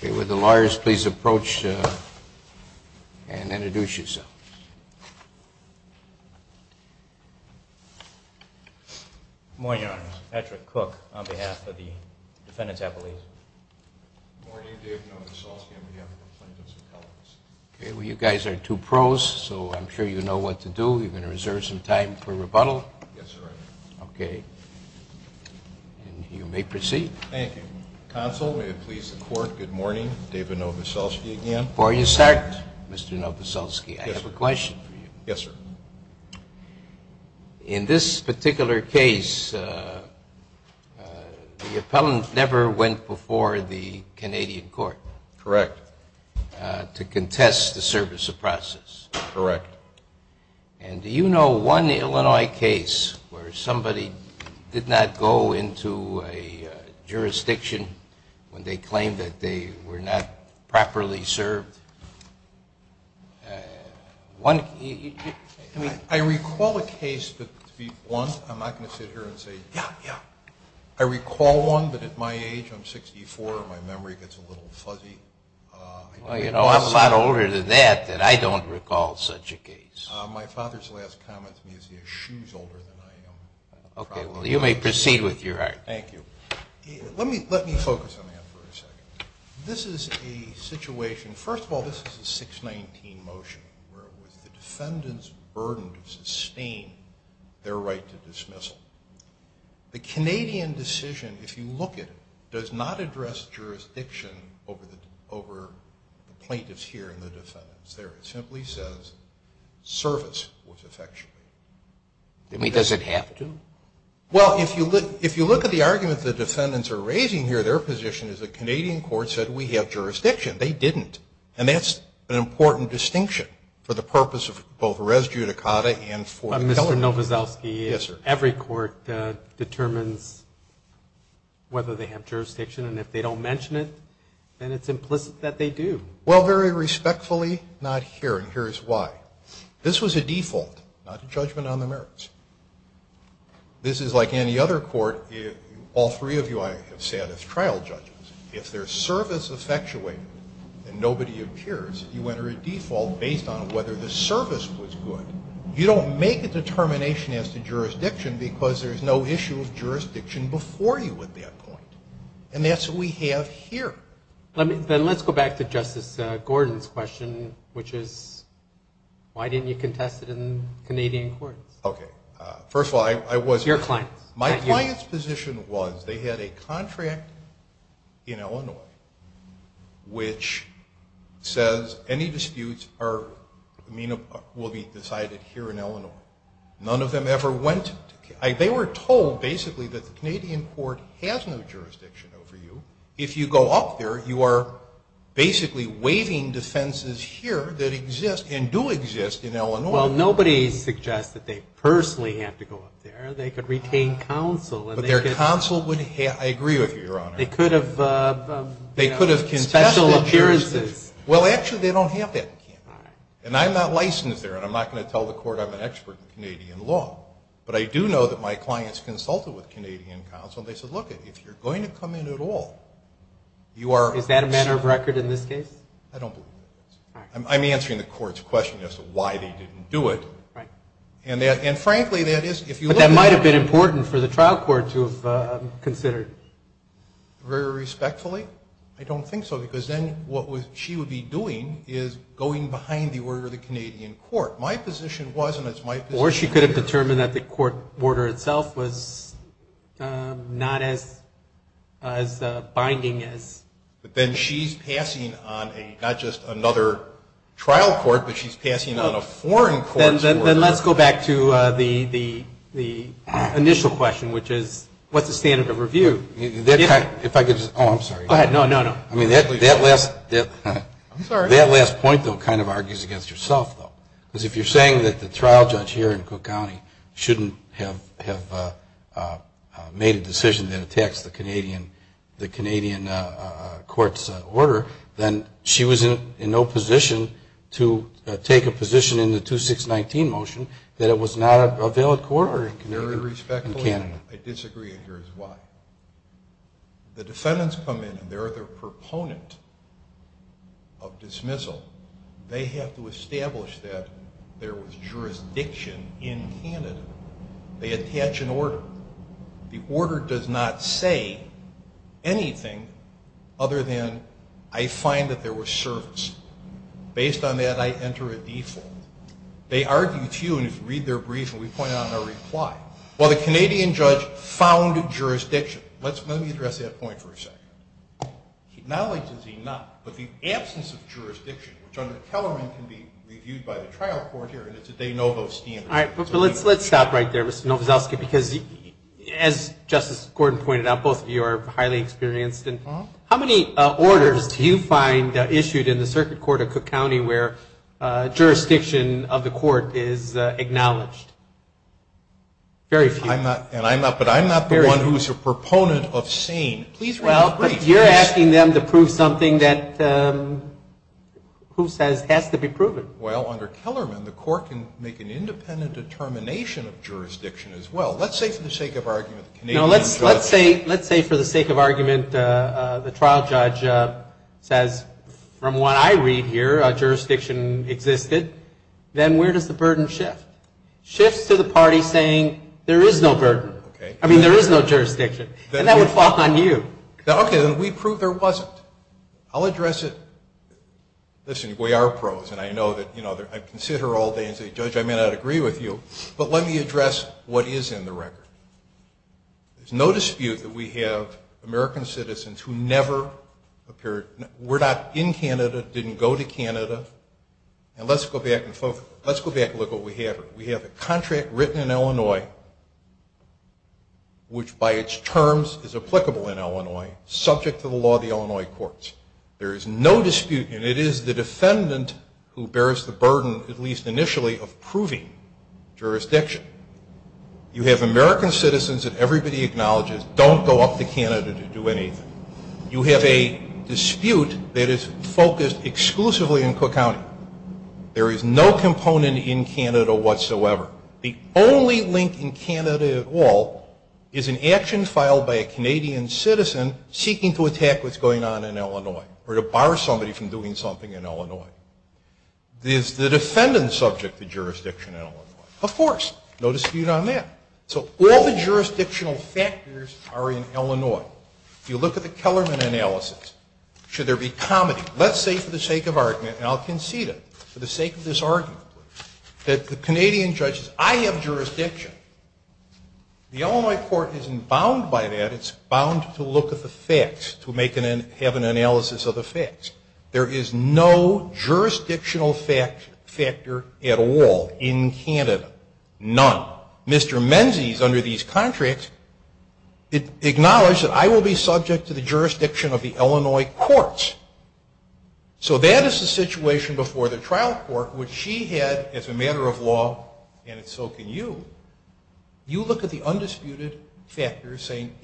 Okay, would the lawyers please approach and introduce yourselves. Good morning, Your Honor. Patrick Cook on behalf of the Defendant's Appellate. Good morning. David Novoselsky on behalf of the Plaintiff's Appellate. Okay, well you guys are two pros, so I'm sure you know what to do. You're going to reserve some time for rebuttal. Yes, sir. Okay, and you may proceed. Thank you. Counsel, may it please the Court, good morning. David Novoselsky again. Before you start, Mr. Novoselsky, I have a question for you. Yes, sir. In this particular case, the appellant never went before the Canadian court. Correct. To contest the service of process. Correct. And do you know one Illinois case where somebody did not go into a jurisdiction when they claimed that they were not properly served? I recall a case, but to be blunt, I'm not going to sit here and say, yeah, yeah. I recall one, but at my age, I'm 64, and my memory gets a little fuzzy. Well, you know, I'm a lot older than that that I don't recall such a case. My father's last comment to me is he has shoes older than I am. Okay, well, you may proceed with your argument. Thank you. Let me focus on that for a second. This is a situation, first of all, this is a 619 motion where it was the defendant's burden to sustain their right to dismissal. The Canadian decision, if you look at it, does not address jurisdiction over the plaintiffs here and the defendants there. It simply says service was effectuated. Does it have to? Well, if you look at the argument the defendants are raising here, their position is the Canadian court said we have jurisdiction. They didn't. And that's an important distinction for the purpose of both res judicata and for the felony. Mr. Nowazowski, every court determines whether they have jurisdiction, and if they don't mention it, then it's implicit that they do. Well, very respectfully, not here, and here's why. This was a default, not a judgment on the merits. This is like any other court. All three of you I have sat as trial judges. If there's service effectuated and nobody appears, you enter a default based on whether the service was good. You don't make a determination as to jurisdiction because there's no issue of jurisdiction before you at that point. And that's what we have here. Then let's go back to Justice Gordon's question, which is why didn't you contest it in Canadian courts? Okay. First of all, I wasn't. Your clients. My client's position was they had a contract in Illinois which says any disputes will be decided here in Illinois. None of them ever went to Canada. They were told basically that the Canadian court has no jurisdiction over you. If you go up there, you are basically waiving defenses here that exist and do exist in Illinois. Well, nobody suggests that they personally have to go up there. They could retain counsel. But their counsel would have. I agree with you, Your Honor. They could have special assurances. Well, actually, they don't have that in Canada. And I'm not licensed there, and I'm not going to tell the court I'm an expert in Canadian law. But I do know that my clients consulted with Canadian counsel, and they said, look, if you're going to come in at all, you are. Is that a matter of record in this case? I don't believe it is. I'm answering the court's question as to why they didn't do it. Right. And, frankly, that is if you look at it. But that might have been important for the trial court to have considered. Very respectfully? I don't think so, because then what she would be doing is going behind the order of the Canadian court. My position was, and it's my position here. Or she could have determined that the court order itself was not as binding as. But then she's passing on not just another trial court, but she's passing on a foreign court's order. Then let's go back to the initial question, which is, what's the standard of review? If I could just.. .oh, I'm sorry. Go ahead. No, no, no. I mean, that last... I'm sorry. That last point, though, kind of argues against yourself, though. Because if you're saying that the trial judge here in Cook County shouldn't have made a decision that attacks the Canadian court's order, then she was in no position to take a position in the 2619 motion that it was not a valid court order in Canada. Very respectfully, I disagree. Here's why. The defendants come in, and they're the proponent of dismissal. They have to establish that there was jurisdiction in Canada. They attach an order. The order does not say anything other than, I find that there was service. Based on that, I enter a default. They argue to you, and if you read their brief, and we point out in our reply, well, the Canadian judge found jurisdiction. Let me address that point for a second. Acknowledges he not, but the absence of jurisdiction, which under Kellerman can be reviewed by the trial court here, and it's that they know those standards. All right, but let's stop right there, Mr. Novoselsky, because as Justice Gordon pointed out, both of you are highly experienced. How many orders do you find issued in the circuit court of Cook County where jurisdiction of the court is acknowledged? Very few. I'm not, but I'm not the one who's a proponent of sane. Please read the brief. Well, but you're asking them to prove something that who says has to be proven. Well, under Kellerman, the court can make an independent determination of jurisdiction as well. Let's say for the sake of argument the Canadian judge. No, let's say for the sake of argument the trial judge says, from what I read here, jurisdiction existed. Then where does the burden shift? Shifts to the party saying there is no burden. I mean, there is no jurisdiction, and that would fall on you. Okay, then we prove there wasn't. I'll address it. Listen, we are pros, and I know that, you know, I can sit here all day and say, Judge, I may not agree with you, but let me address what is in the record. There's no dispute that we have American citizens who never appeared. We're not in Canada, didn't go to Canada. And let's go back and look at what we have here. We have a contract written in Illinois, which by its terms is applicable in Illinois, subject to the law of the Illinois courts. There is no dispute, and it is the defendant who bears the burden, at least initially, of proving jurisdiction. You have American citizens that everybody acknowledges don't go up to Canada to do anything. You have a dispute that is focused exclusively in Cook County. There is no component in Canada whatsoever. The only link in Canada at all is an action filed by a Canadian citizen seeking to attack what's going on in Illinois or to bar somebody from doing something in Illinois. Is the defendant subject to jurisdiction in Illinois? Of course. No dispute on that. So all the jurisdictional factors are in Illinois. If you look at the Kellerman analysis, should there be comedy? Let's say for the sake of argument, and I'll concede it for the sake of this argument, that the Canadian judge says, I have jurisdiction. The Illinois court isn't bound by that. It's bound to look at the facts, to have an analysis of the facts. There is no jurisdictional factor at all in Canada. None. Mr. Menzies, under these contracts, acknowledged that I will be subject to the jurisdiction of the Illinois courts. So that is the situation before the trial court, which she had as a matter of law, and so can you. You look at the undisputed factors saying,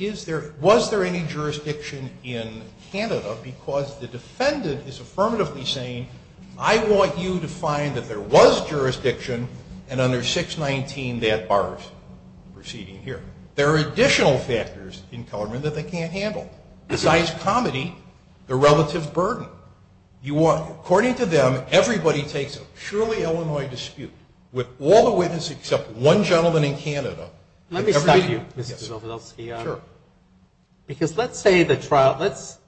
was there any jurisdiction in Canada? Because the defendant is affirmatively saying, I want you to find that there was jurisdiction, and under 619 that bars proceeding here. There are additional factors in Kellerman that they can't handle. Besides comedy, the relative burden. According to them, everybody takes a surely Illinois dispute with all the witnesses except one gentleman in Canada. Let me stop you, Mr. Zofidulski. Sure. Because let's say the trial, let's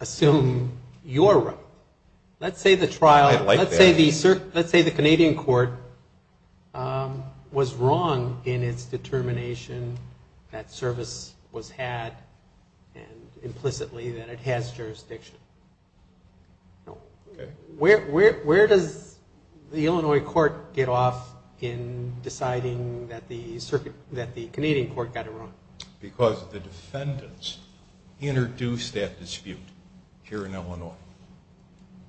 assume you're right. Let's say the trial, let's say the Canadian court was wrong in its determination that service was had and implicitly that it has jurisdiction. Okay. Where does the Illinois court get off in deciding that the Canadian court got it wrong? Because the defendants introduced that dispute here in Illinois.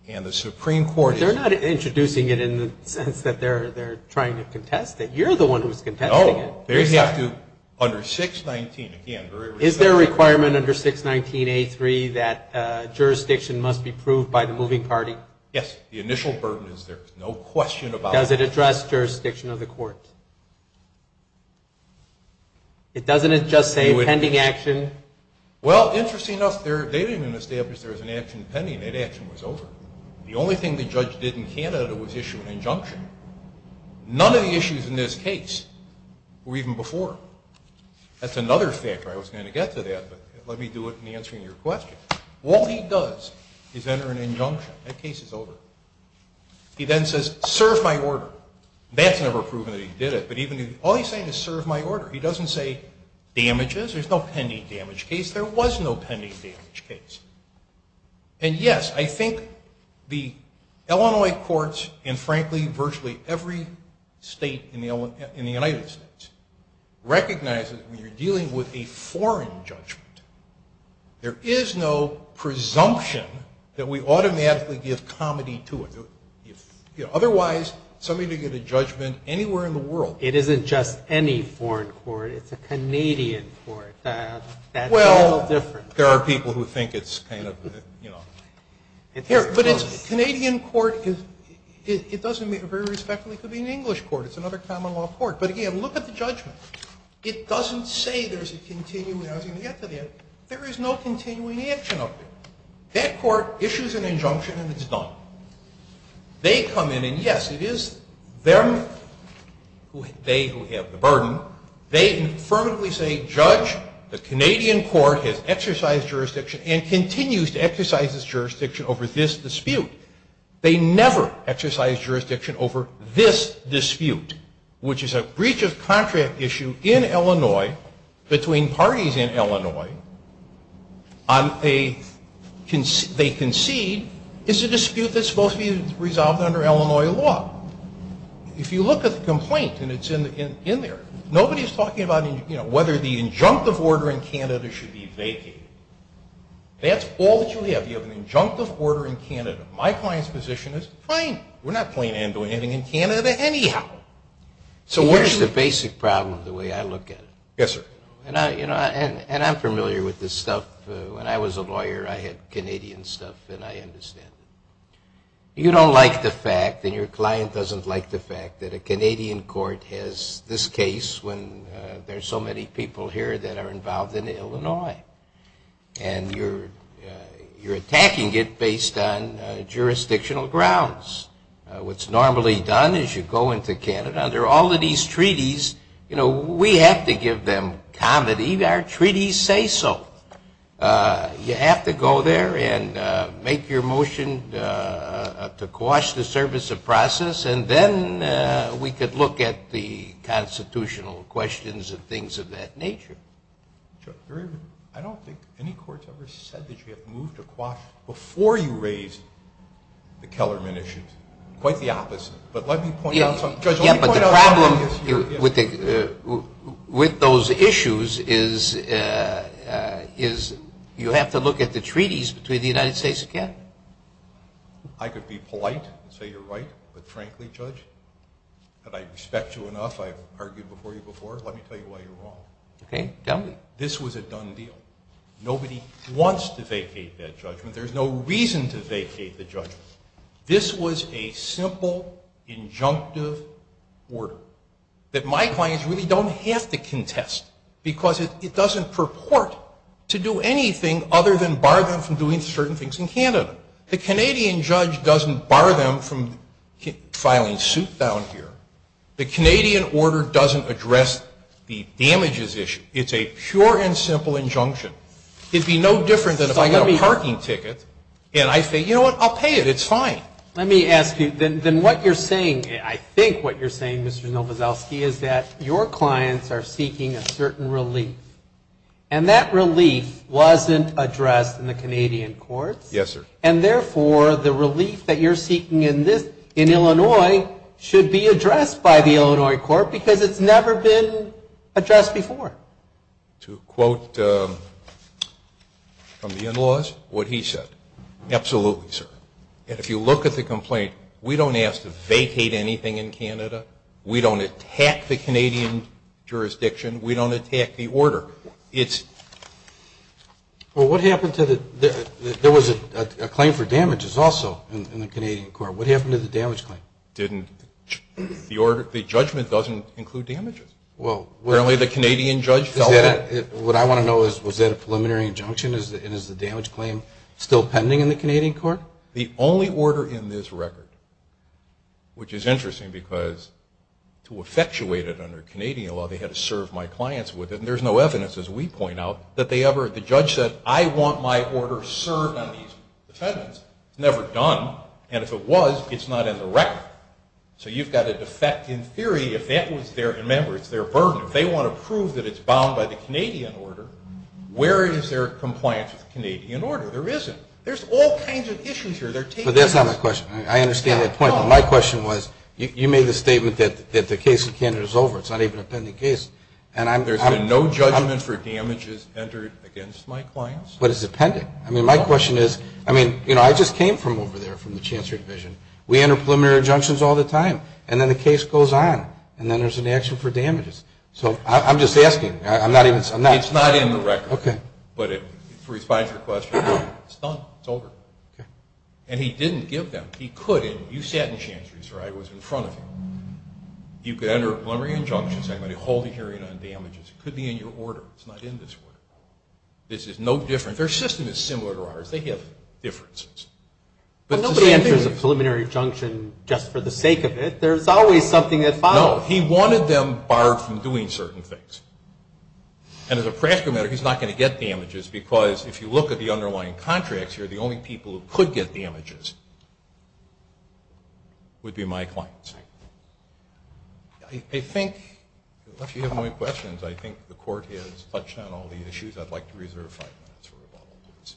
And the Supreme Court is They're not introducing it in the sense that they're trying to contest it. You're the one who's contesting it. No. They have to, under 619 again Is there a requirement under 619A3 that jurisdiction must be proved by the moving party? Yes. The initial burden is there. There's no question about it. Does it address jurisdiction of the court? It doesn't just say pending action? Well, interestingly enough, they didn't even establish there was an action pending. That action was over. The only thing the judge did in Canada was issue an injunction. None of the issues in this case were even before. That's another factor. I wasn't going to get to that, but let me do it in answering your question. All he does is enter an injunction. That case is over. He then says, serve my order. That's never proven that he did it, but even All he's saying is serve my order. He doesn't say damages. There's no pending damage case. There was no pending damage case. And, yes, I think the Illinois courts and, frankly, virtually every state in the United States recognizes when you're dealing with a foreign judgment, there is no presumption that we automatically give comity to it. Otherwise, somebody could get a judgment anywhere in the world. It isn't just any foreign court. It's a Canadian court. That's a little different. Well, there are people who think it's kind of, you know. But it's a Canadian court. It doesn't very respectfully could be an English court. It's another common law court. But, again, look at the judgment. It doesn't say there's a continuing, I was going to get to that. There is no continuing action of it. That court issues an injunction and it's done. They come in and, yes, it is them, they who have the burden. They affirmatively say, Judge, the Canadian court has exercised jurisdiction and continues to exercise its jurisdiction over this dispute. They never exercise jurisdiction over this dispute, which is a breach of contract issue in Illinois between parties in Illinois. They concede it's a dispute that's supposed to be resolved under Illinois law. If you look at the complaint, and it's in there, nobody is talking about whether the injunctive order in Canada should be vacated. That's all that you have. That's the idea of an injunctive order in Canada. My client's position is fine. We're not playing hand-to-hand in Canada anyhow. So where's the basic problem the way I look at it? Yes, sir. And I'm familiar with this stuff. When I was a lawyer, I had Canadian stuff, and I understand it. You don't like the fact, and your client doesn't like the fact, that a Canadian court has this case when there's so many people here that are involved in Illinois. And you're attacking it based on jurisdictional grounds. What's normally done is you go into Canada. Under all of these treaties, you know, we have to give them comedy. Our treaties say so. You have to go there and make your motion to quash the service of process, and then we could look at the constitutional questions and things of that nature. I don't think any court's ever said that you have to move to quash before you raise the Kellerman issues. Quite the opposite. But let me point out something. Yeah, but the problem with those issues is you have to look at the treaties between the United States of Canada. I could be polite and say you're right, but frankly, Judge, that I respect you enough. I've argued before you before. Let me tell you why you're wrong. Okay, tell me. This was a done deal. Nobody wants to vacate that judgment. There's no reason to vacate the judgment. This was a simple injunctive order that my clients really don't have to contest because it doesn't purport to do anything other than bar them from doing certain things in Canada. The Canadian judge doesn't bar them from filing suit down here. The Canadian order doesn't address the damages issue. It's a pure and simple injunction. It would be no different than if I got a parking ticket and I say, you know what, I'll pay it. It's fine. Let me ask you. Then what you're saying, I think what you're saying, Mr. Nowazowski, is that your clients are seeking a certain relief, and that relief wasn't addressed in the Canadian courts. Yes, sir. And therefore, the relief that you're seeking in Illinois should be addressed by the Illinois court because it's never been addressed before. To quote from the in-laws what he said, absolutely, sir. And if you look at the complaint, we don't ask to vacate anything in Canada. We don't attack the Canadian jurisdiction. We don't attack the order. Well, what happened to the ñ there was a claim for damages also in the Canadian court. What happened to the damage claim? The judgment doesn't include damages. Well, what I want to know is, was that a preliminary injunction and is the damage claim still pending in the Canadian court? The only order in this record, which is interesting because to effectuate it under Canadian law, they had to serve my clients with it, and there's no evidence, as we point out, that they ever ñ the judge said, I want my order served on these defendants. It's never done, and if it was, it's not in the record. So you've got a defect in theory. If that was their ñ remember, it's their burden. If they want to prove that it's bound by the Canadian order, where is their compliance with the Canadian order? There isn't. There's all kinds of issues here. But that's not my question. I understand that point. My question was, you made the statement that the case in Canada is over. It's not even a pending case, and I'm ñ There's been no judgment for damages entered against my clients? But it's a pending. I mean, my question is, I mean, you know, I just came from over there, from the Chancellor's Division. We enter preliminary injunctions all the time, and then the case goes on, and then there's an action for damages. So I'm just asking. I'm not ñ It's not in the record. Okay. But if it's a response request, it's done. It's over. Okay. And he didn't give them. He couldn't. You sat in Chancellor's, right? I was in front of you. You could enter a preliminary injunction saying, ìI'm going to hold the hearing on damages.î It could be in your order. It's not in this order. This is no different. Their system is similar to ours. They have differences. But nobody enters a preliminary injunction just for the sake of it. There's always something that follows. No. He wanted them barred from doing certain things. And as a practical matter, he's not going to get damages because if you look at the underlying contracts here, the only people who could get damages would be my clients. I think, if you have more questions, I think the Court has touched on all the issues. I'd like to reserve five minutes for rebuttal. Thank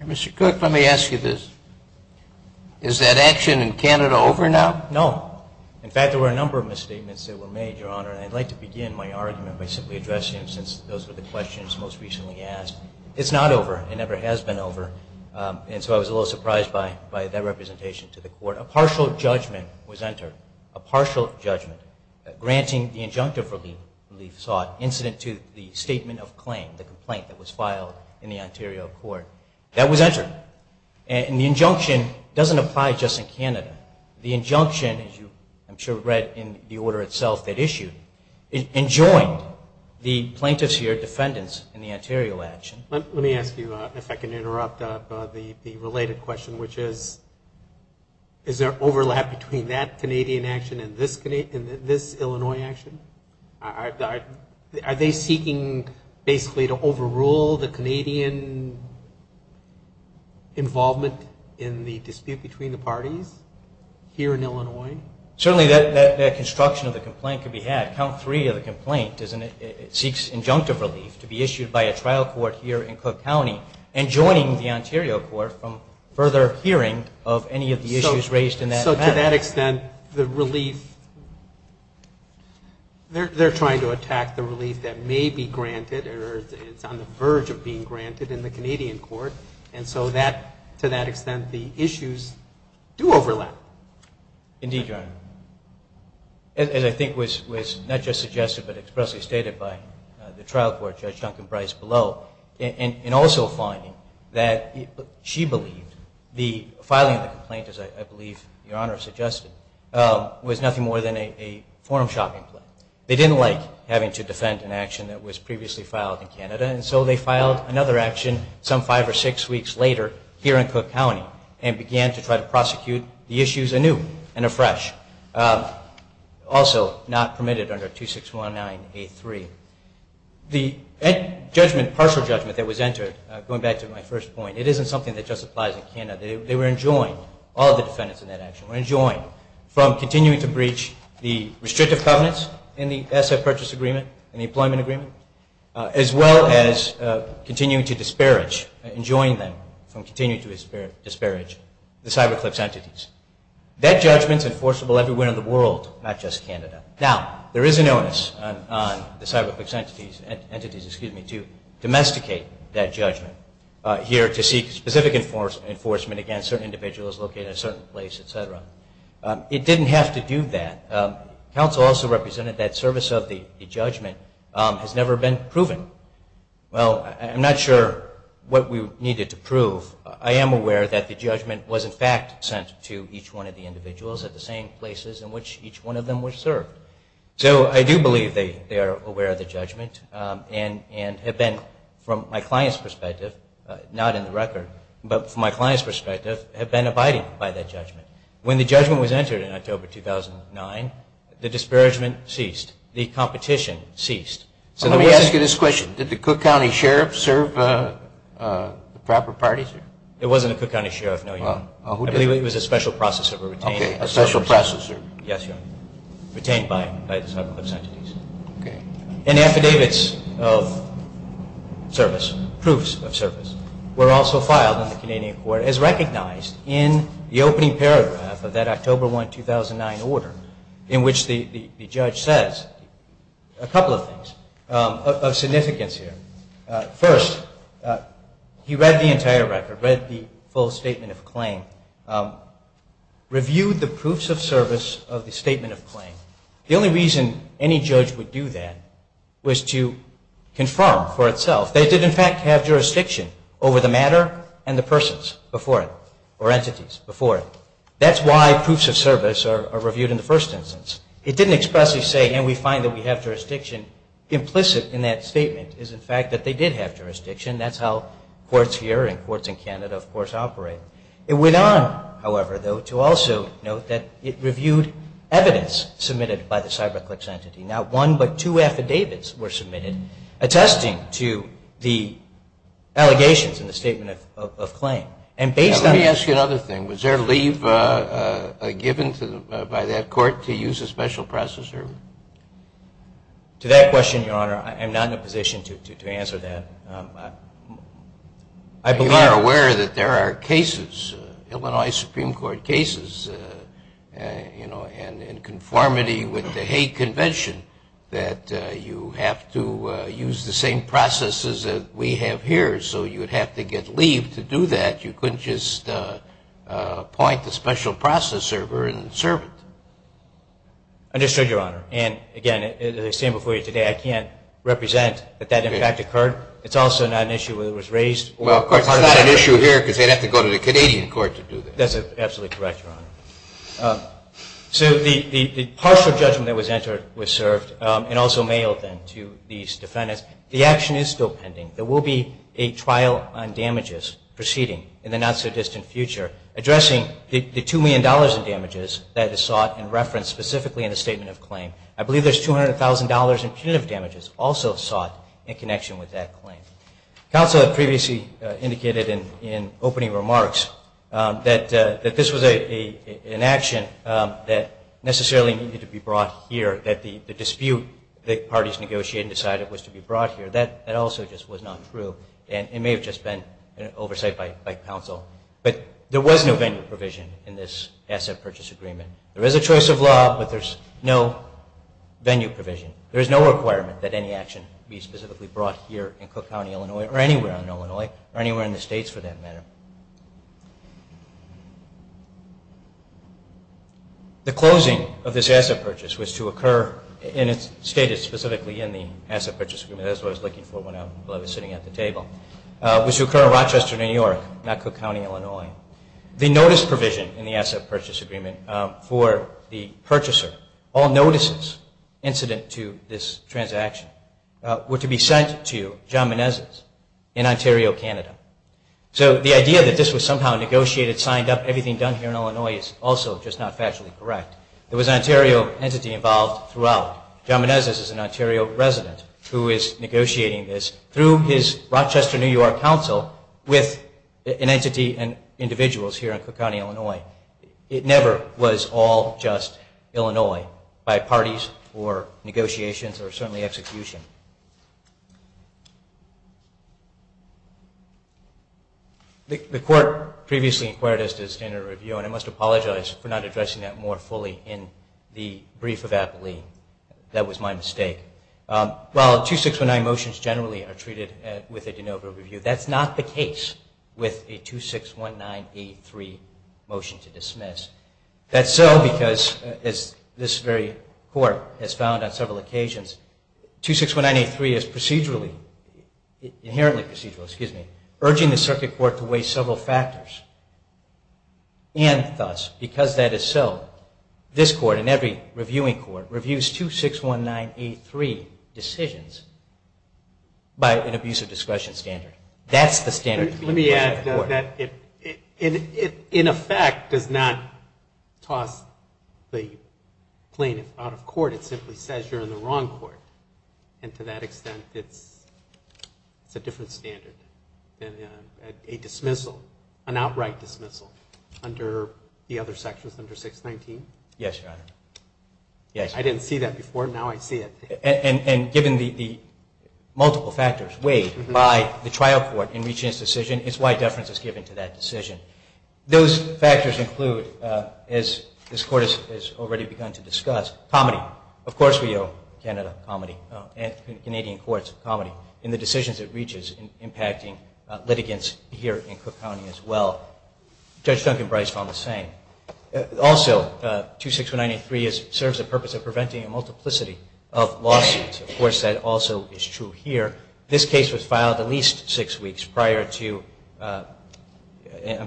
you. Mr. Cook, let me ask you this. Is that action in Canada over now? No. In fact, there were a number of misstatements that were made, Your Honor, and I'd like to begin my argument by simply addressing them since those were the questions most recently asked. It's not over. It never has been over. And so I was a little surprised by that representation to the Court. A partial judgment was entered, a partial judgment, granting the injunctive relief sought, incident two, the statement of claim, the complaint that was filed in the Ontario Court. That was entered. And the injunction doesn't apply just in Canada. The injunction, as you I'm sure read in the order itself that issued, enjoined the plaintiffs here, defendants in the Ontario action. Let me ask you, if I can interrupt, the related question, which is is there overlap between that Canadian action and this Illinois action? Are they seeking basically to overrule the Canadian involvement in the dispute between the parties here in Illinois? Certainly that construction of the complaint could be had. Count three of the complaint seeks injunctive relief to be issued by a trial court here in Cook County and joining the Ontario Court from further hearing of any of the issues raised in that matter. To that extent, the relief, they're trying to attack the relief that may be granted or is on the verge of being granted in the Canadian Court. And so to that extent, the issues do overlap. Indeed, Your Honor. As I think was not just suggested but expressly stated by the trial court, Judge Duncan Brice below, in also finding that she believed the filing of the complaint, as I believe Your Honor suggested, was nothing more than a form shopping play. They didn't like having to defend an action that was previously filed in Canada and so they filed another action some five or six weeks later here in Cook County and began to try to prosecute the issues anew and afresh. Also not permitted under 2619A3. The judgment, partial judgment that was entered, going back to my first point, it isn't something that just applies in Canada. They were enjoined, all of the defendants in that action, were enjoined from continuing to breach the restrictive covenants in the asset purchase agreement and the employment agreement as well as continuing to disparage, enjoined them from continuing to disparage the cyberclips entities. That judgment's enforceable everywhere in the world, not just Canada. Now, there is an onus on the cyberclips entities to domesticate that judgment here to seek specific enforcement against certain individuals located in a certain place, et cetera. It didn't have to do that. Counsel also represented that service of the judgment has never been proven. Well, I'm not sure what we needed to prove. I am aware that the judgment was in fact sent to each one of the individuals at the same places in which each one of them was served. So I do believe they are aware of the judgment and have been, from my client's perspective, not in the record, but from my client's perspective, have been abiding by that judgment. When the judgment was entered in October 2009, the disparagement ceased. The competition ceased. Let me ask you this question. Did the Cook County Sheriff serve the proper parties? It wasn't a Cook County Sheriff, no, Your Honor. I believe it was a special processor. Okay, a special processor. Yes, Your Honor. Retained by the cyberclips entities. Okay. And affidavits of service, proofs of service, were also filed in the Canadian court as recognized in the opening paragraph of that October 1, 2009 order in which the judge says a couple of things of significance here. First, he read the entire record, read the full statement of claim, reviewed the proofs of service of the statement of claim. The only reason any judge would do that was to confirm for itself. They did, in fact, have jurisdiction over the matter and the persons before it or entities before it. That's why proofs of service are reviewed in the first instance. It didn't expressly say, and we find that we have jurisdiction. Implicit in that statement is, in fact, that they did have jurisdiction. That's how courts here and courts in Canada, of course, operate. It went on, however, though, to also note that it reviewed evidence submitted by the cyberclips entity. Not one but two affidavits were submitted attesting to the allegations in the statement of claim. Let me ask you another thing. Was there leave given by that court to use a special processor? To that question, Your Honor, I am not in a position to answer that. You are aware that there are cases, Illinois Supreme Court cases, and in conformity with the Hague Convention, that you have to use the same processes that we have here, so you would have to get leave to do that. You couldn't just appoint a special processor and serve it. Understood, Your Honor. And, again, as I stated before you today, I can't represent that that, in fact, occurred. It's also not an issue whether it was raised. Well, of course, it's not an issue here because they'd have to go to the Canadian court to do this. That's absolutely correct, Your Honor. So the partial judgment that was entered was served and also mailed then to these defendants. The action is still pending. There will be a trial on damages proceeding in the not-so-distant future addressing the $2 million in damages that is sought and referenced specifically in the statement of claim. I believe there's $200,000 in punitive damages also sought in connection with that claim. Counsel had previously indicated in opening remarks that this was an action that necessarily needed to be brought here, that the dispute that parties negotiated and decided was to be brought here. That also just was not true, and it may have just been oversight by counsel. But there was no venue provision in this asset purchase agreement. There is a choice of law, but there's no venue provision. There is no requirement that any action be specifically brought here in Cook County, Illinois, or anywhere in Illinois, or anywhere in the states for that matter. The closing of this asset purchase was to occur, and it's stated specifically in the asset purchase agreement. That's what I was looking for when I was sitting at the table. It was to occur in Rochester, New York, not Cook County, Illinois. The notice provision in the asset purchase agreement for the purchaser, all notices incident to this transaction, were to be sent to John Menezes in Ontario, Canada. So the idea that this was somehow negotiated, signed up, everything done here in Illinois is also just not factually correct. There was an Ontario entity involved throughout. John Menezes is an Ontario resident who is negotiating this through his Rochester, New York, counsel with an entity and individuals here in Cook County, Illinois. It never was all just Illinois by parties or negotiations or certainly execution. The court previously inquired us to a standard review, and I must apologize for not addressing that more fully in the brief of Apolline. That was my mistake. While 2619 motions generally are treated with a de novo review, that's not the case with a 2619A3 motion to dismiss. That's so because, as this very court has found on several occasions, 2619A3 is procedurally, inherently procedural, urging the circuit court to weigh several factors. And thus, because that is so, this court and every reviewing court reviews 2619A3 decisions by an abuse of discretion standard. That's the standard. Let me add that it, in effect, does not toss the claim out of court. It simply says you're in the wrong court. And to that extent, it's a different standard. A dismissal, an outright dismissal, under the other sections, under 619? Yes, Your Honor. I didn't see that before. Now I see it. And given the multiple factors weighed by the trial court in reaching its decision, it's why deference is given to that decision. Those factors include, as this court has already begun to discuss, comedy. Of course we owe Canada comedy and Canadian courts comedy in the decisions it reaches impacting litigants here in Cook County as well. Judge Duncan Brice found the same. Also, 2619A3 serves the purpose of preventing a multiplicity of lawsuits. Of course, that also is true here. This case was filed at least six weeks prior to any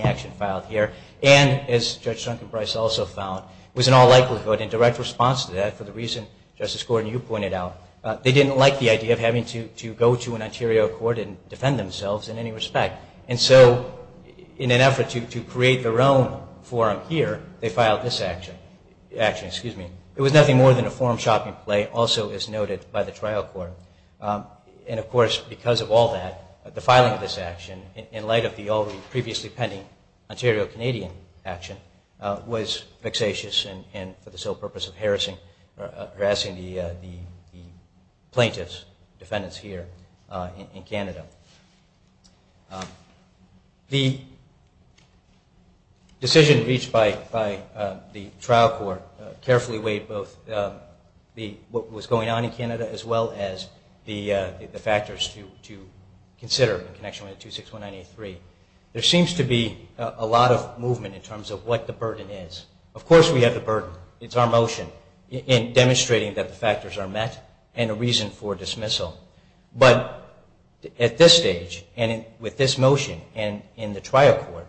action filed here. And, as Judge Duncan Brice also found, was in all likelihood in direct response to that for the reason Justice Gordon, you pointed out. They didn't like the idea of having to go to an Ontario court and defend themselves in any respect. And so, in an effort to create their own forum here, they filed this action. It was nothing more than a forum shopping play, also as noted by the trial court. And, of course, because of all that, the filing of this action, in light of the already previously pending Ontario-Canadian action, was vexatious and for the sole purpose of harassing the plaintiffs, defendants here in Canada. The decision reached by the trial court carefully weighed both what was going on in Canada as well as the factors to consider in connection with 2619A3. There seems to be a lot of movement in terms of what the burden is. Of course, we have the burden. It's our motion in demonstrating that the factors are met and a reason for dismissal. But, at this stage and with this motion and in the trial court,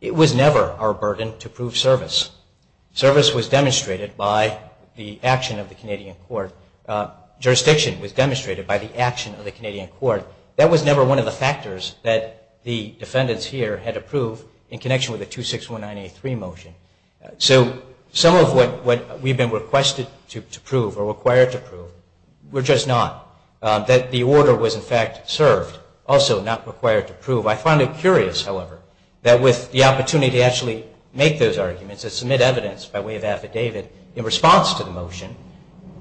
it was never our burden to prove service. Service was demonstrated by the action of the Canadian court. Jurisdiction was demonstrated by the action of the Canadian court. That was never one of the factors that the defendants here had to prove in connection with the 2619A3 motion. So, some of what we've been requested to prove or required to prove were just not. That the order was, in fact, served, also not required to prove. I find it curious, however, that with the opportunity to actually make those arguments and submit evidence by way of affidavit in response to the motion,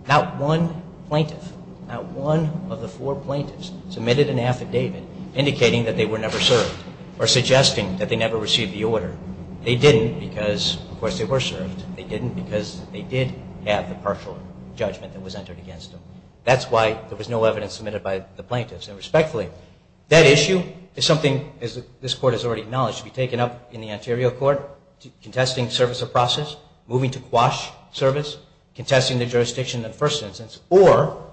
not one plaintiff, not one of the four plaintiffs, submitted an affidavit indicating that they were never served or suggesting that they never received the order. They didn't because, of course, they were served. They didn't because they did have the partial judgment that was entered against them. That's why there was no evidence submitted by the plaintiffs. And, respectfully, that issue is something, as this court has already acknowledged, to be taken up in the Ontario court, contesting service of process, moving to quash service, contesting the jurisdiction in the first instance, or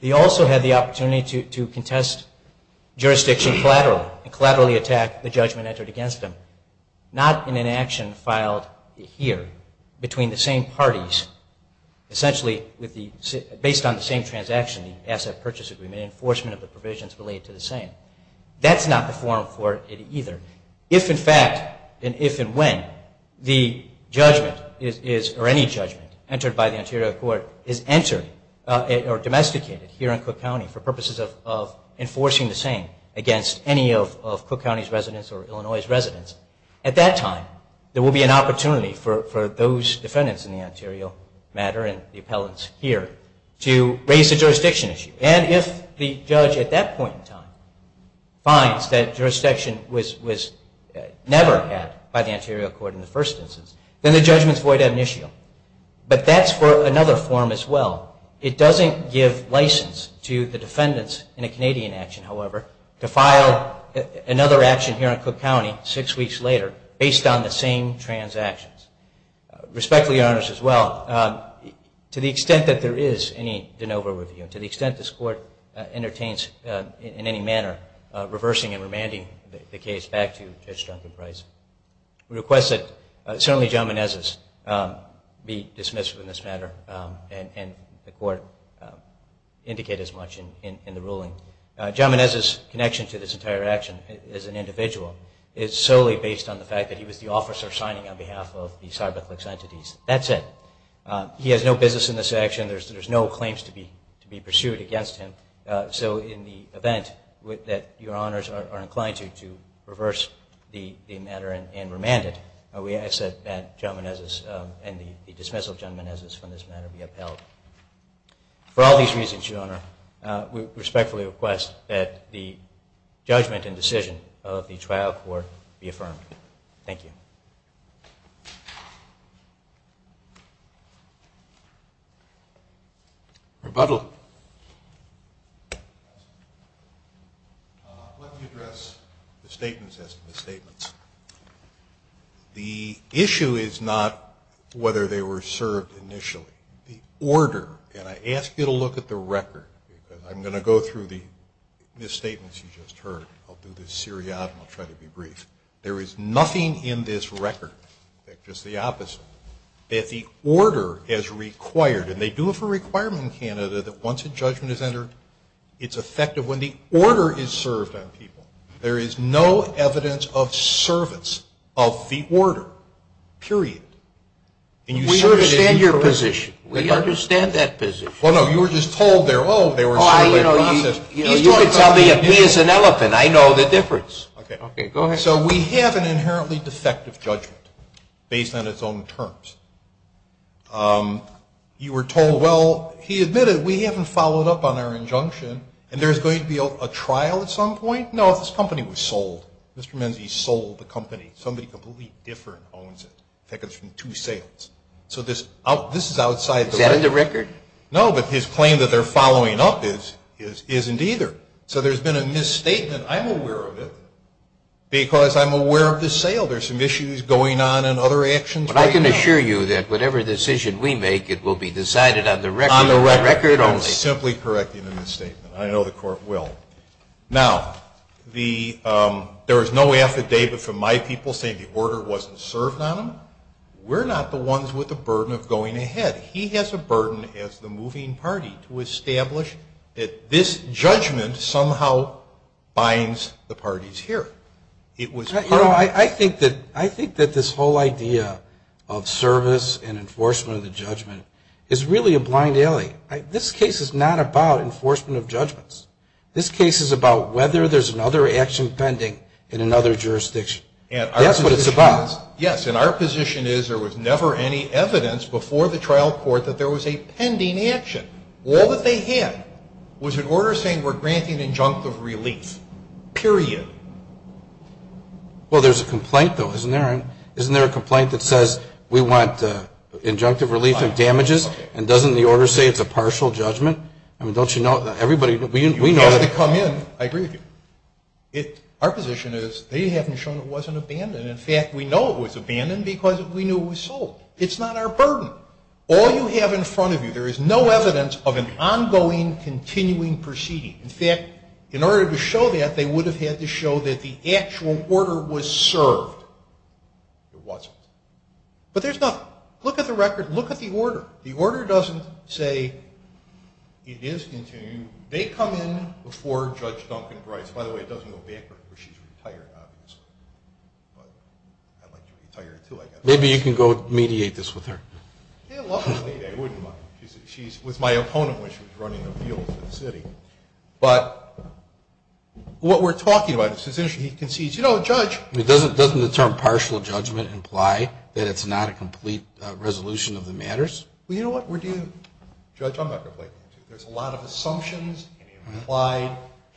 they also had the opportunity to contest jurisdiction collaterally and collaterally attack the judgment entered against them. Not in an action filed here between the same parties, essentially based on the same transaction, the asset purchase agreement, enforcement of the provisions related to the same. That's not the form for it either. If, in fact, and if and when, the judgment is, or any judgment, entered by the Ontario court is entered or domesticated here in Cook County for purposes of enforcing the same against any of Cook County's residents or Illinois' residents, at that time, there will be an opportunity for those defendants in the Ontario matter and the appellants here to raise a jurisdiction issue. And if the judge at that point in time finds that jurisdiction was never had by the Ontario court in the first instance, then the judgment is void ad initio. But that's for another form as well. It doesn't give license to the defendants in a Canadian action, however, to file another action here in Cook County six weeks later based on the same transactions. Respectfully, Your Honors, as well, to the extent that there is any de novo review and to the extent this court entertains in any manner reversing and remanding the case back to Judge Duncan Price, we request that certainly John Menezes be dismissed in this matter and the court indicate as much in the ruling. John Menezes' connection to this entire action as an individual is solely based on the fact that he was the officer signing on behalf of the CyberClicks entities. That's it. He has no business in this action. There's no claims to be pursued against him. So in the event that Your Honors are inclined to reverse the matter and remand it, we ask that John Menezes and the dismissal of John Menezes from this matter be upheld. For all these reasons, Your Honor, we respectfully request that the judgment and decision of the trial court be affirmed. Thank you. Rebuttal. Let me address the statements as to the statements. The issue is not whether they were served initially. The order, and I ask you to look at the record, because I'm going to go through the misstatements you just heard. I'll do this seriatim. I'll try to be brief. There is nothing in this record, just the opposite, that the order has required, and they do have a requirement in Canada that once a judgment is entered, it's effective when the order is served on people. There is no evidence of service of the order, period. We understand your position. We understand that position. Well, no, you were just told there, oh, they were in some other process. You could tell me if he is an elephant. I know the difference. Okay. Go ahead. So we have an inherently defective judgment based on its own terms. You were told, well, he admitted we haven't followed up on our injunction, and there's going to be a trial at some point. No, this company was sold. Mr. Menzies sold the company. Somebody completely different owns it. In fact, it's from two sales. So this is outside the record. Is that in the record? No, but his claim that they're following up isn't either. So there's been a misstatement. I'm aware of it because I'm aware of the sale. There's some issues going on in other actions right now. But I can assure you that whatever decision we make, it will be decided on the record. On the record only. I'm simply correcting the misstatement. I know the Court will. Now, there is no affidavit from my people saying the order wasn't served on them. We're not the ones with the burden of going ahead. He has a burden as the moving party to establish that this judgment somehow binds the parties here. I think that this whole idea of service and enforcement of the judgment is really a blind alley. This case is not about enforcement of judgments. This case is about whether there's another action pending in another jurisdiction. That's what it's about. Yes, and our position is there was never any evidence before the trial court that there was a pending action. All that they had was an order saying we're granting injunctive relief, period. Well, there's a complaint, though, isn't there? Isn't there a complaint that says we want injunctive relief of damages and doesn't the order say it's a partial judgment? I mean, don't you know? Everybody, we know. You had to come in. I agree with you. Our position is they haven't shown it wasn't abandoned. In fact, we know it was abandoned because we knew it was sold. It's not our burden. All you have in front of you, there is no evidence of an ongoing, continuing proceeding. In fact, in order to show that, they would have had to show that the actual order was served. It wasn't. But there's nothing. Look at the record. The order doesn't say it is continuing. They come in before Judge Duncan Brice. By the way, it doesn't go bankrupt because she's retired, obviously. But I'd like to retire, too, I guess. Maybe you can go mediate this with her. Yeah, luckily, I wouldn't mind. She was my opponent when she was running appeals in the city. But what we're talking about, he concedes, you know, Judge. Doesn't the term partial judgment imply that it's not a complete resolution of the matters? Well, you know what? Judge, I'm not going to play games with you. There's a lot of assumptions.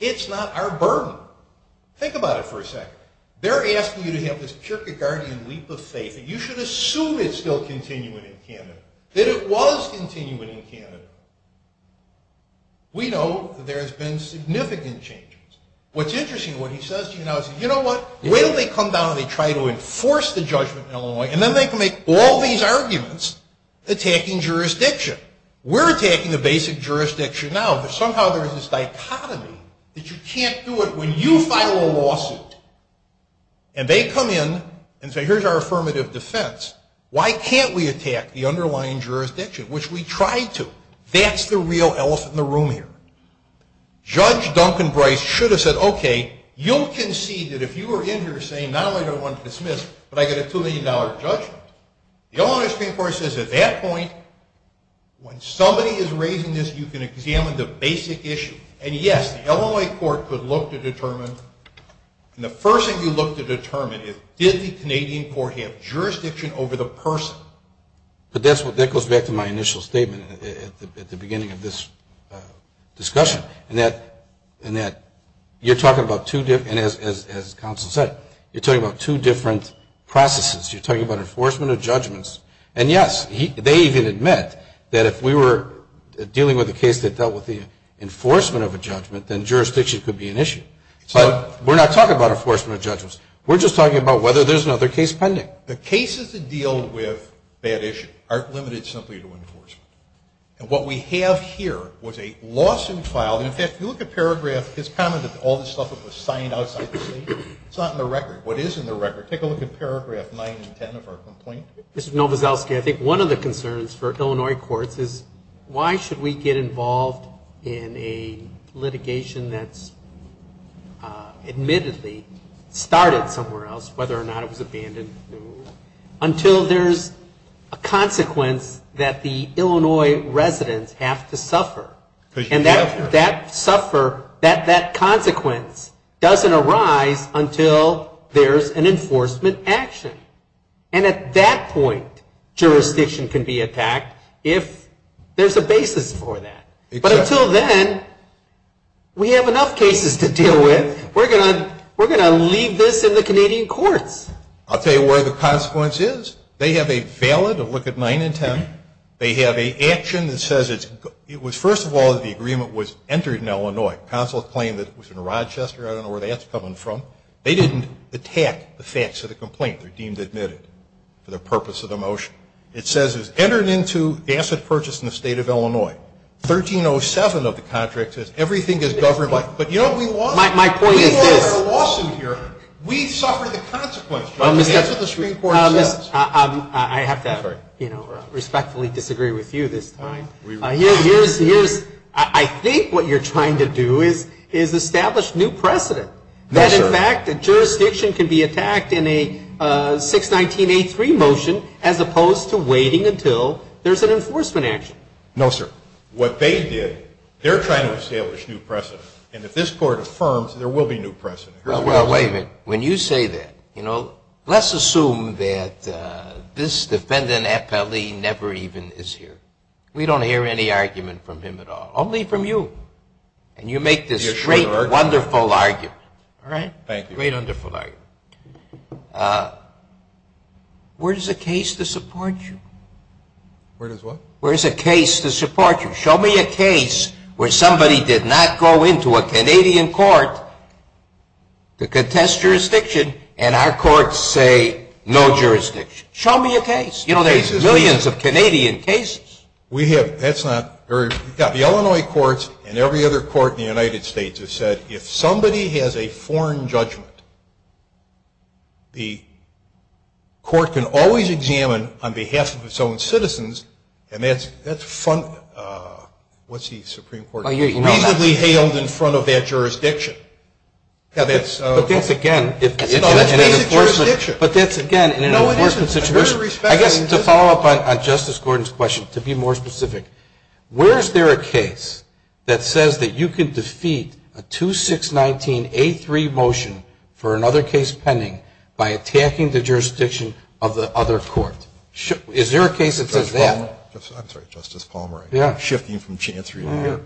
It's not our burden. Think about it for a second. They're asking you to have this Kierkegaardian leap of faith that you should assume it's still continuing in Canada, that it was continuing in Canada. We know that there has been significant changes. What's interesting, what he says to you now is, you know what, wait until they come down and they try to enforce the judgment in Illinois, and then they can make all these arguments attacking jurisdiction. We're attacking the basic jurisdiction now, but somehow there's this dichotomy that you can't do it when you file a lawsuit. And they come in and say, here's our affirmative defense. Why can't we attack the underlying jurisdiction, which we tried to? That's the real elephant in the room here. Judge Duncan Bryce should have said, okay, you'll concede that if you were in here saying, not only do I want to dismiss, but I get a $2 million judgment. The Illinois Supreme Court says at that point, when somebody is raising this, you can examine the basic issue. And, yes, the Illinois court could look to determine, and the first thing you look to determine is, did the Canadian court have jurisdiction over the person? But that goes back to my initial statement at the beginning of this discussion, in that you're talking about two different, as counsel said, you're talking about two different processes. You're talking about enforcement of judgments. And, yes, they even admit that if we were dealing with a case that dealt with the enforcement of a judgment, then jurisdiction could be an issue. But we're not talking about enforcement of judgments. We're just talking about whether there's another case pending. The cases that deal with that issue aren't limited simply to enforcement. And what we have here was a lawsuit filed. And, in fact, if you look at paragraph, his comment that all this stuff was signed outside the state, it's not in the record. What is in the record, take a look at paragraph 9 and 10 of our complaint. Mr. Nowazowski, I think one of the concerns for Illinois courts is, why should we get involved in a litigation that's admittedly started somewhere else, whether or not it was abandoned, until there's a consequence that the Illinois residents have to suffer. And that suffer, that consequence doesn't arise until there's an enforcement action. And at that point, jurisdiction can be attacked if there's a basis for that. But until then, we have enough cases to deal with. We're going to leave this in the Canadian courts. I'll tell you where the consequence is. They have a valid, look at 9 and 10. They have an action that says it was, first of all, the agreement was entered in Illinois. Counsel claimed that it was in Rochester. I don't know where that's coming from. They didn't attack the facts of the complaint. They're deemed admitted for the purpose of the motion. It says it was entered into asset purchase in the state of Illinois. 1307 of the contract says everything is governed by, but you know what we want? My point is this. We want a lawsuit here. We suffer the consequence. That's what the Supreme Court says. I have to respectfully disagree with you this time. I think what you're trying to do is establish new precedent. No, sir. That, in fact, the jurisdiction can be attacked in a 619A3 motion as opposed to waiting until there's an enforcement action. No, sir. What they did, they're trying to establish new precedent. And if this Court affirms, there will be new precedent. Well, wait a minute. When you say that, you know, let's assume that this defendant, Appellee, never even is here. We don't hear any argument from him at all, only from you. And you make this great, wonderful argument. All right? Thank you. Great, wonderful argument. Where is a case to support you? Where is what? Where is a case to support you? Show me a case where somebody did not go into a Canadian court to contest jurisdiction, and our courts say no jurisdiction. Show me a case. You know, there's millions of Canadian cases. We have. That's not. The Illinois courts and every other court in the United States have said if somebody has a foreign judgment, the court can always examine on behalf of its own citizens, and that's front, what's the Supreme Court, reasonably hailed in front of that jurisdiction. Yeah, that's. But that's, again. That's basic jurisdiction. But that's, again, in an enforcement situation. I guess to follow up on Justice Gordon's question, to be more specific, where is there a case that says that you can defeat a 2619A3 motion for another case pending by attacking the jurisdiction of the other court? Is there a case that says that? Justice Palmer. I'm sorry. Justice Palmer. Yeah. Shifting from chance review here.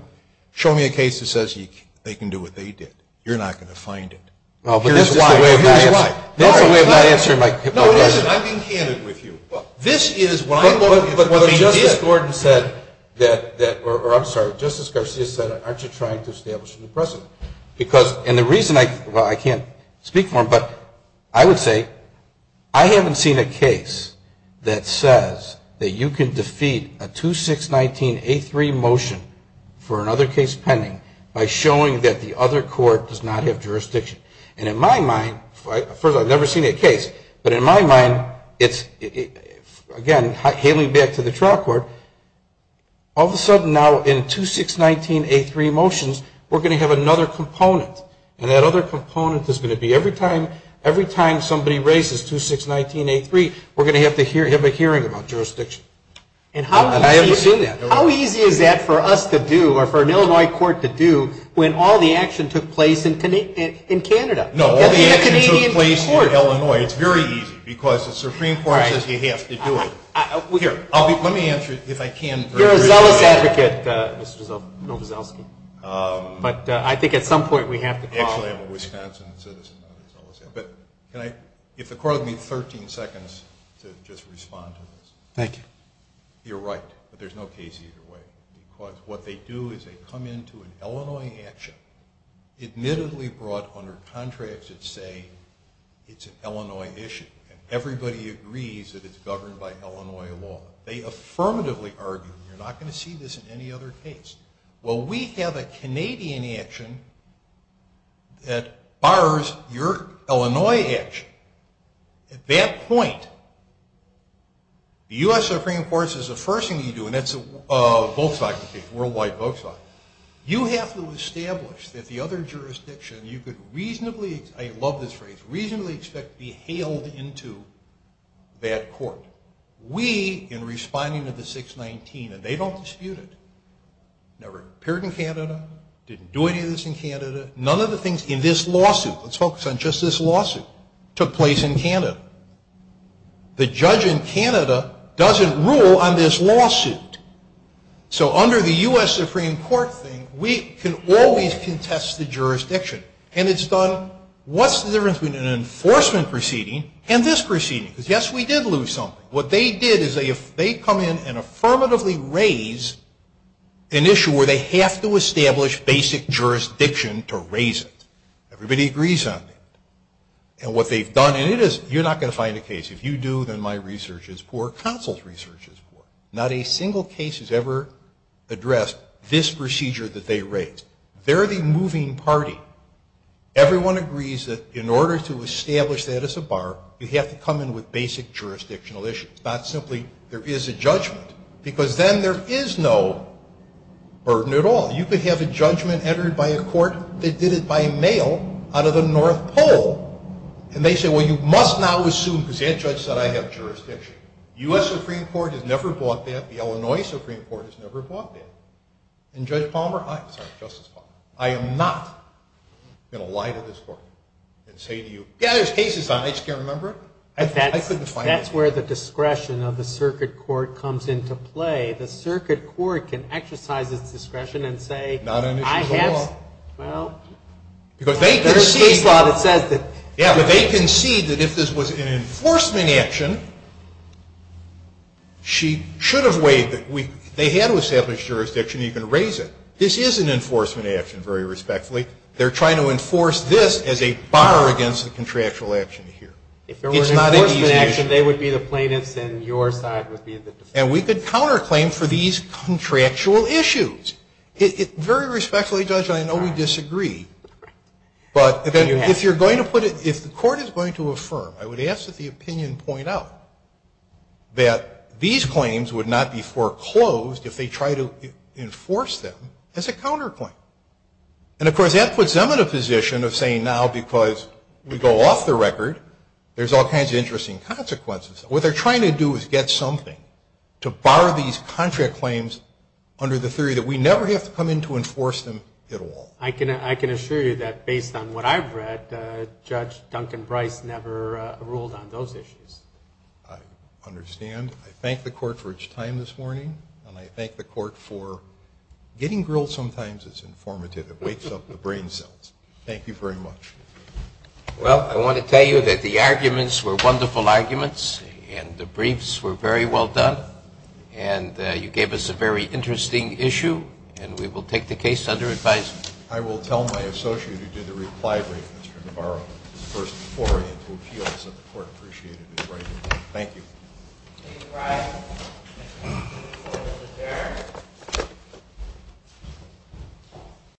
Show me a case that says they can do what they did. You're not going to find it. Here's why. Here's why. That's a way of not answering my question. No, it isn't. I'm being candid with you. This is what I'm looking for. Justice Gordon said that, or I'm sorry, Justice Garcia said, aren't you trying to establish a new precedent? Because, and the reason I, well, I can't speak for him, but I would say I haven't seen a case that says that you can defeat a 2619A3 motion for another case pending by showing that the other court does not have jurisdiction. And in my mind, first, I've never seen a case, but in my mind, it's, again, hailing back to that jurisdiction. Because when I was in the trial court, all of a sudden, now, in 2619A3 motions, we're going to have another component. And that other component is going to be every time somebody raises 2619A3, we're going to have a hearing about jurisdiction. And I haven't seen that. How easy is that for us to do, or for an Illinois court to do, when all the action took place in Canada? No, all the action took place in Illinois. It's very easy. Because the Supreme Court says you have to do it. Here, let me answer it, if I can. You're a zealous advocate, Mr. Novoselsky. But I think at some point we have to call it. Actually, I'm a Wisconsin citizen, not a zealous advocate. But can I, if the court will give me 13 seconds to just respond to this. Thank you. You're right. But there's no case either way. Because what they do is they come into an Illinois action, admittedly brought under contracts that say it's an Illinois issue. And everybody agrees that it's governed by Illinois law. They affirmatively argue, you're not going to see this in any other case. Well, we have a Canadian action that bars your Illinois action. At that point, the U.S. Supreme Court says the first thing you do, and that's a Volkswagen case, a worldwide Volkswagen, you have to establish that the other jurisdiction, you could reasonably, I love this phrase, reasonably expect to be hailed into that court. We, in responding to the 619, and they don't dispute it, never appeared in Canada, didn't do any of this in Canada, none of the things in this lawsuit, let's focus on just this lawsuit, took place in Canada. The judge in Canada doesn't rule on this lawsuit. So under the U.S. Supreme Court thing, we can always contest the jurisdiction. And it's done, what's the difference between an enforcement proceeding and this proceeding? Because, yes, we did lose something. What they did is they come in and affirmatively raise an issue where they have to establish basic jurisdiction to raise it. Everybody agrees on it. And what they've done, and it is, you're not going to find a case. If you do, then my research is poor. Counsel's research is poor. Not a single case has ever addressed this procedure that they raised. They're the moving party. Everyone agrees that in order to establish that as a bar, you have to come in with basic jurisdictional issues, not simply there is a judgment, because then there is no burden at all. You could have a judgment entered by a court that did it by mail out of the North Pole. And they say, well, you must now assume, because that judge said I have jurisdiction. The U.S. Supreme Court has never bought that. The Illinois Supreme Court has never bought that. And Judge Palmer, I'm sorry, Justice Palmer, I am not going to lie to this court and say to you, yeah, there's cases on it. I just can't remember it. I couldn't find it. That's where the discretion of the circuit court comes into play. The circuit court can exercise its discretion and say, I have, well, there's this law that says that. But they concede that if this was an enforcement action, she should have waived it. They had to establish jurisdiction. You can raise it. This is an enforcement action, very respectfully. They're trying to enforce this as a bar against the contractual action here. It's not an easy issue. If there were an enforcement action, they would be the plaintiffs and your side would be the defense. And we could counterclaim for these contractual issues. Very respectfully, Judge, I know we disagree. But if you're going to put it, if the court is going to affirm, I would ask that the opinion point out that these claims would not be foreclosed if they try to enforce them as a counterclaim. And, of course, that puts them in a position of saying now because we go off the record, there's all kinds of interesting consequences. What they're trying to do is get something to bar these contract claims under the theory that we never have to come in to enforce them at all. I can assure you that based on what I've read, Judge Duncan Brice never ruled on those issues. I understand. I thank the court for its time this morning. And I thank the court for getting grilled sometimes is informative. It wakes up the brain cells. Thank you very much. Well, I want to tell you that the arguments were wonderful arguments and the briefs were very well done. And you gave us a very interesting issue. And we will take the case under advisement. I will tell my associate who did the reply brief, Mr. Navarro, to first foray into appeals and the court appreciated his writing. Thank you. Thank you, Mr. Brice. Thank you, Mr. Chair.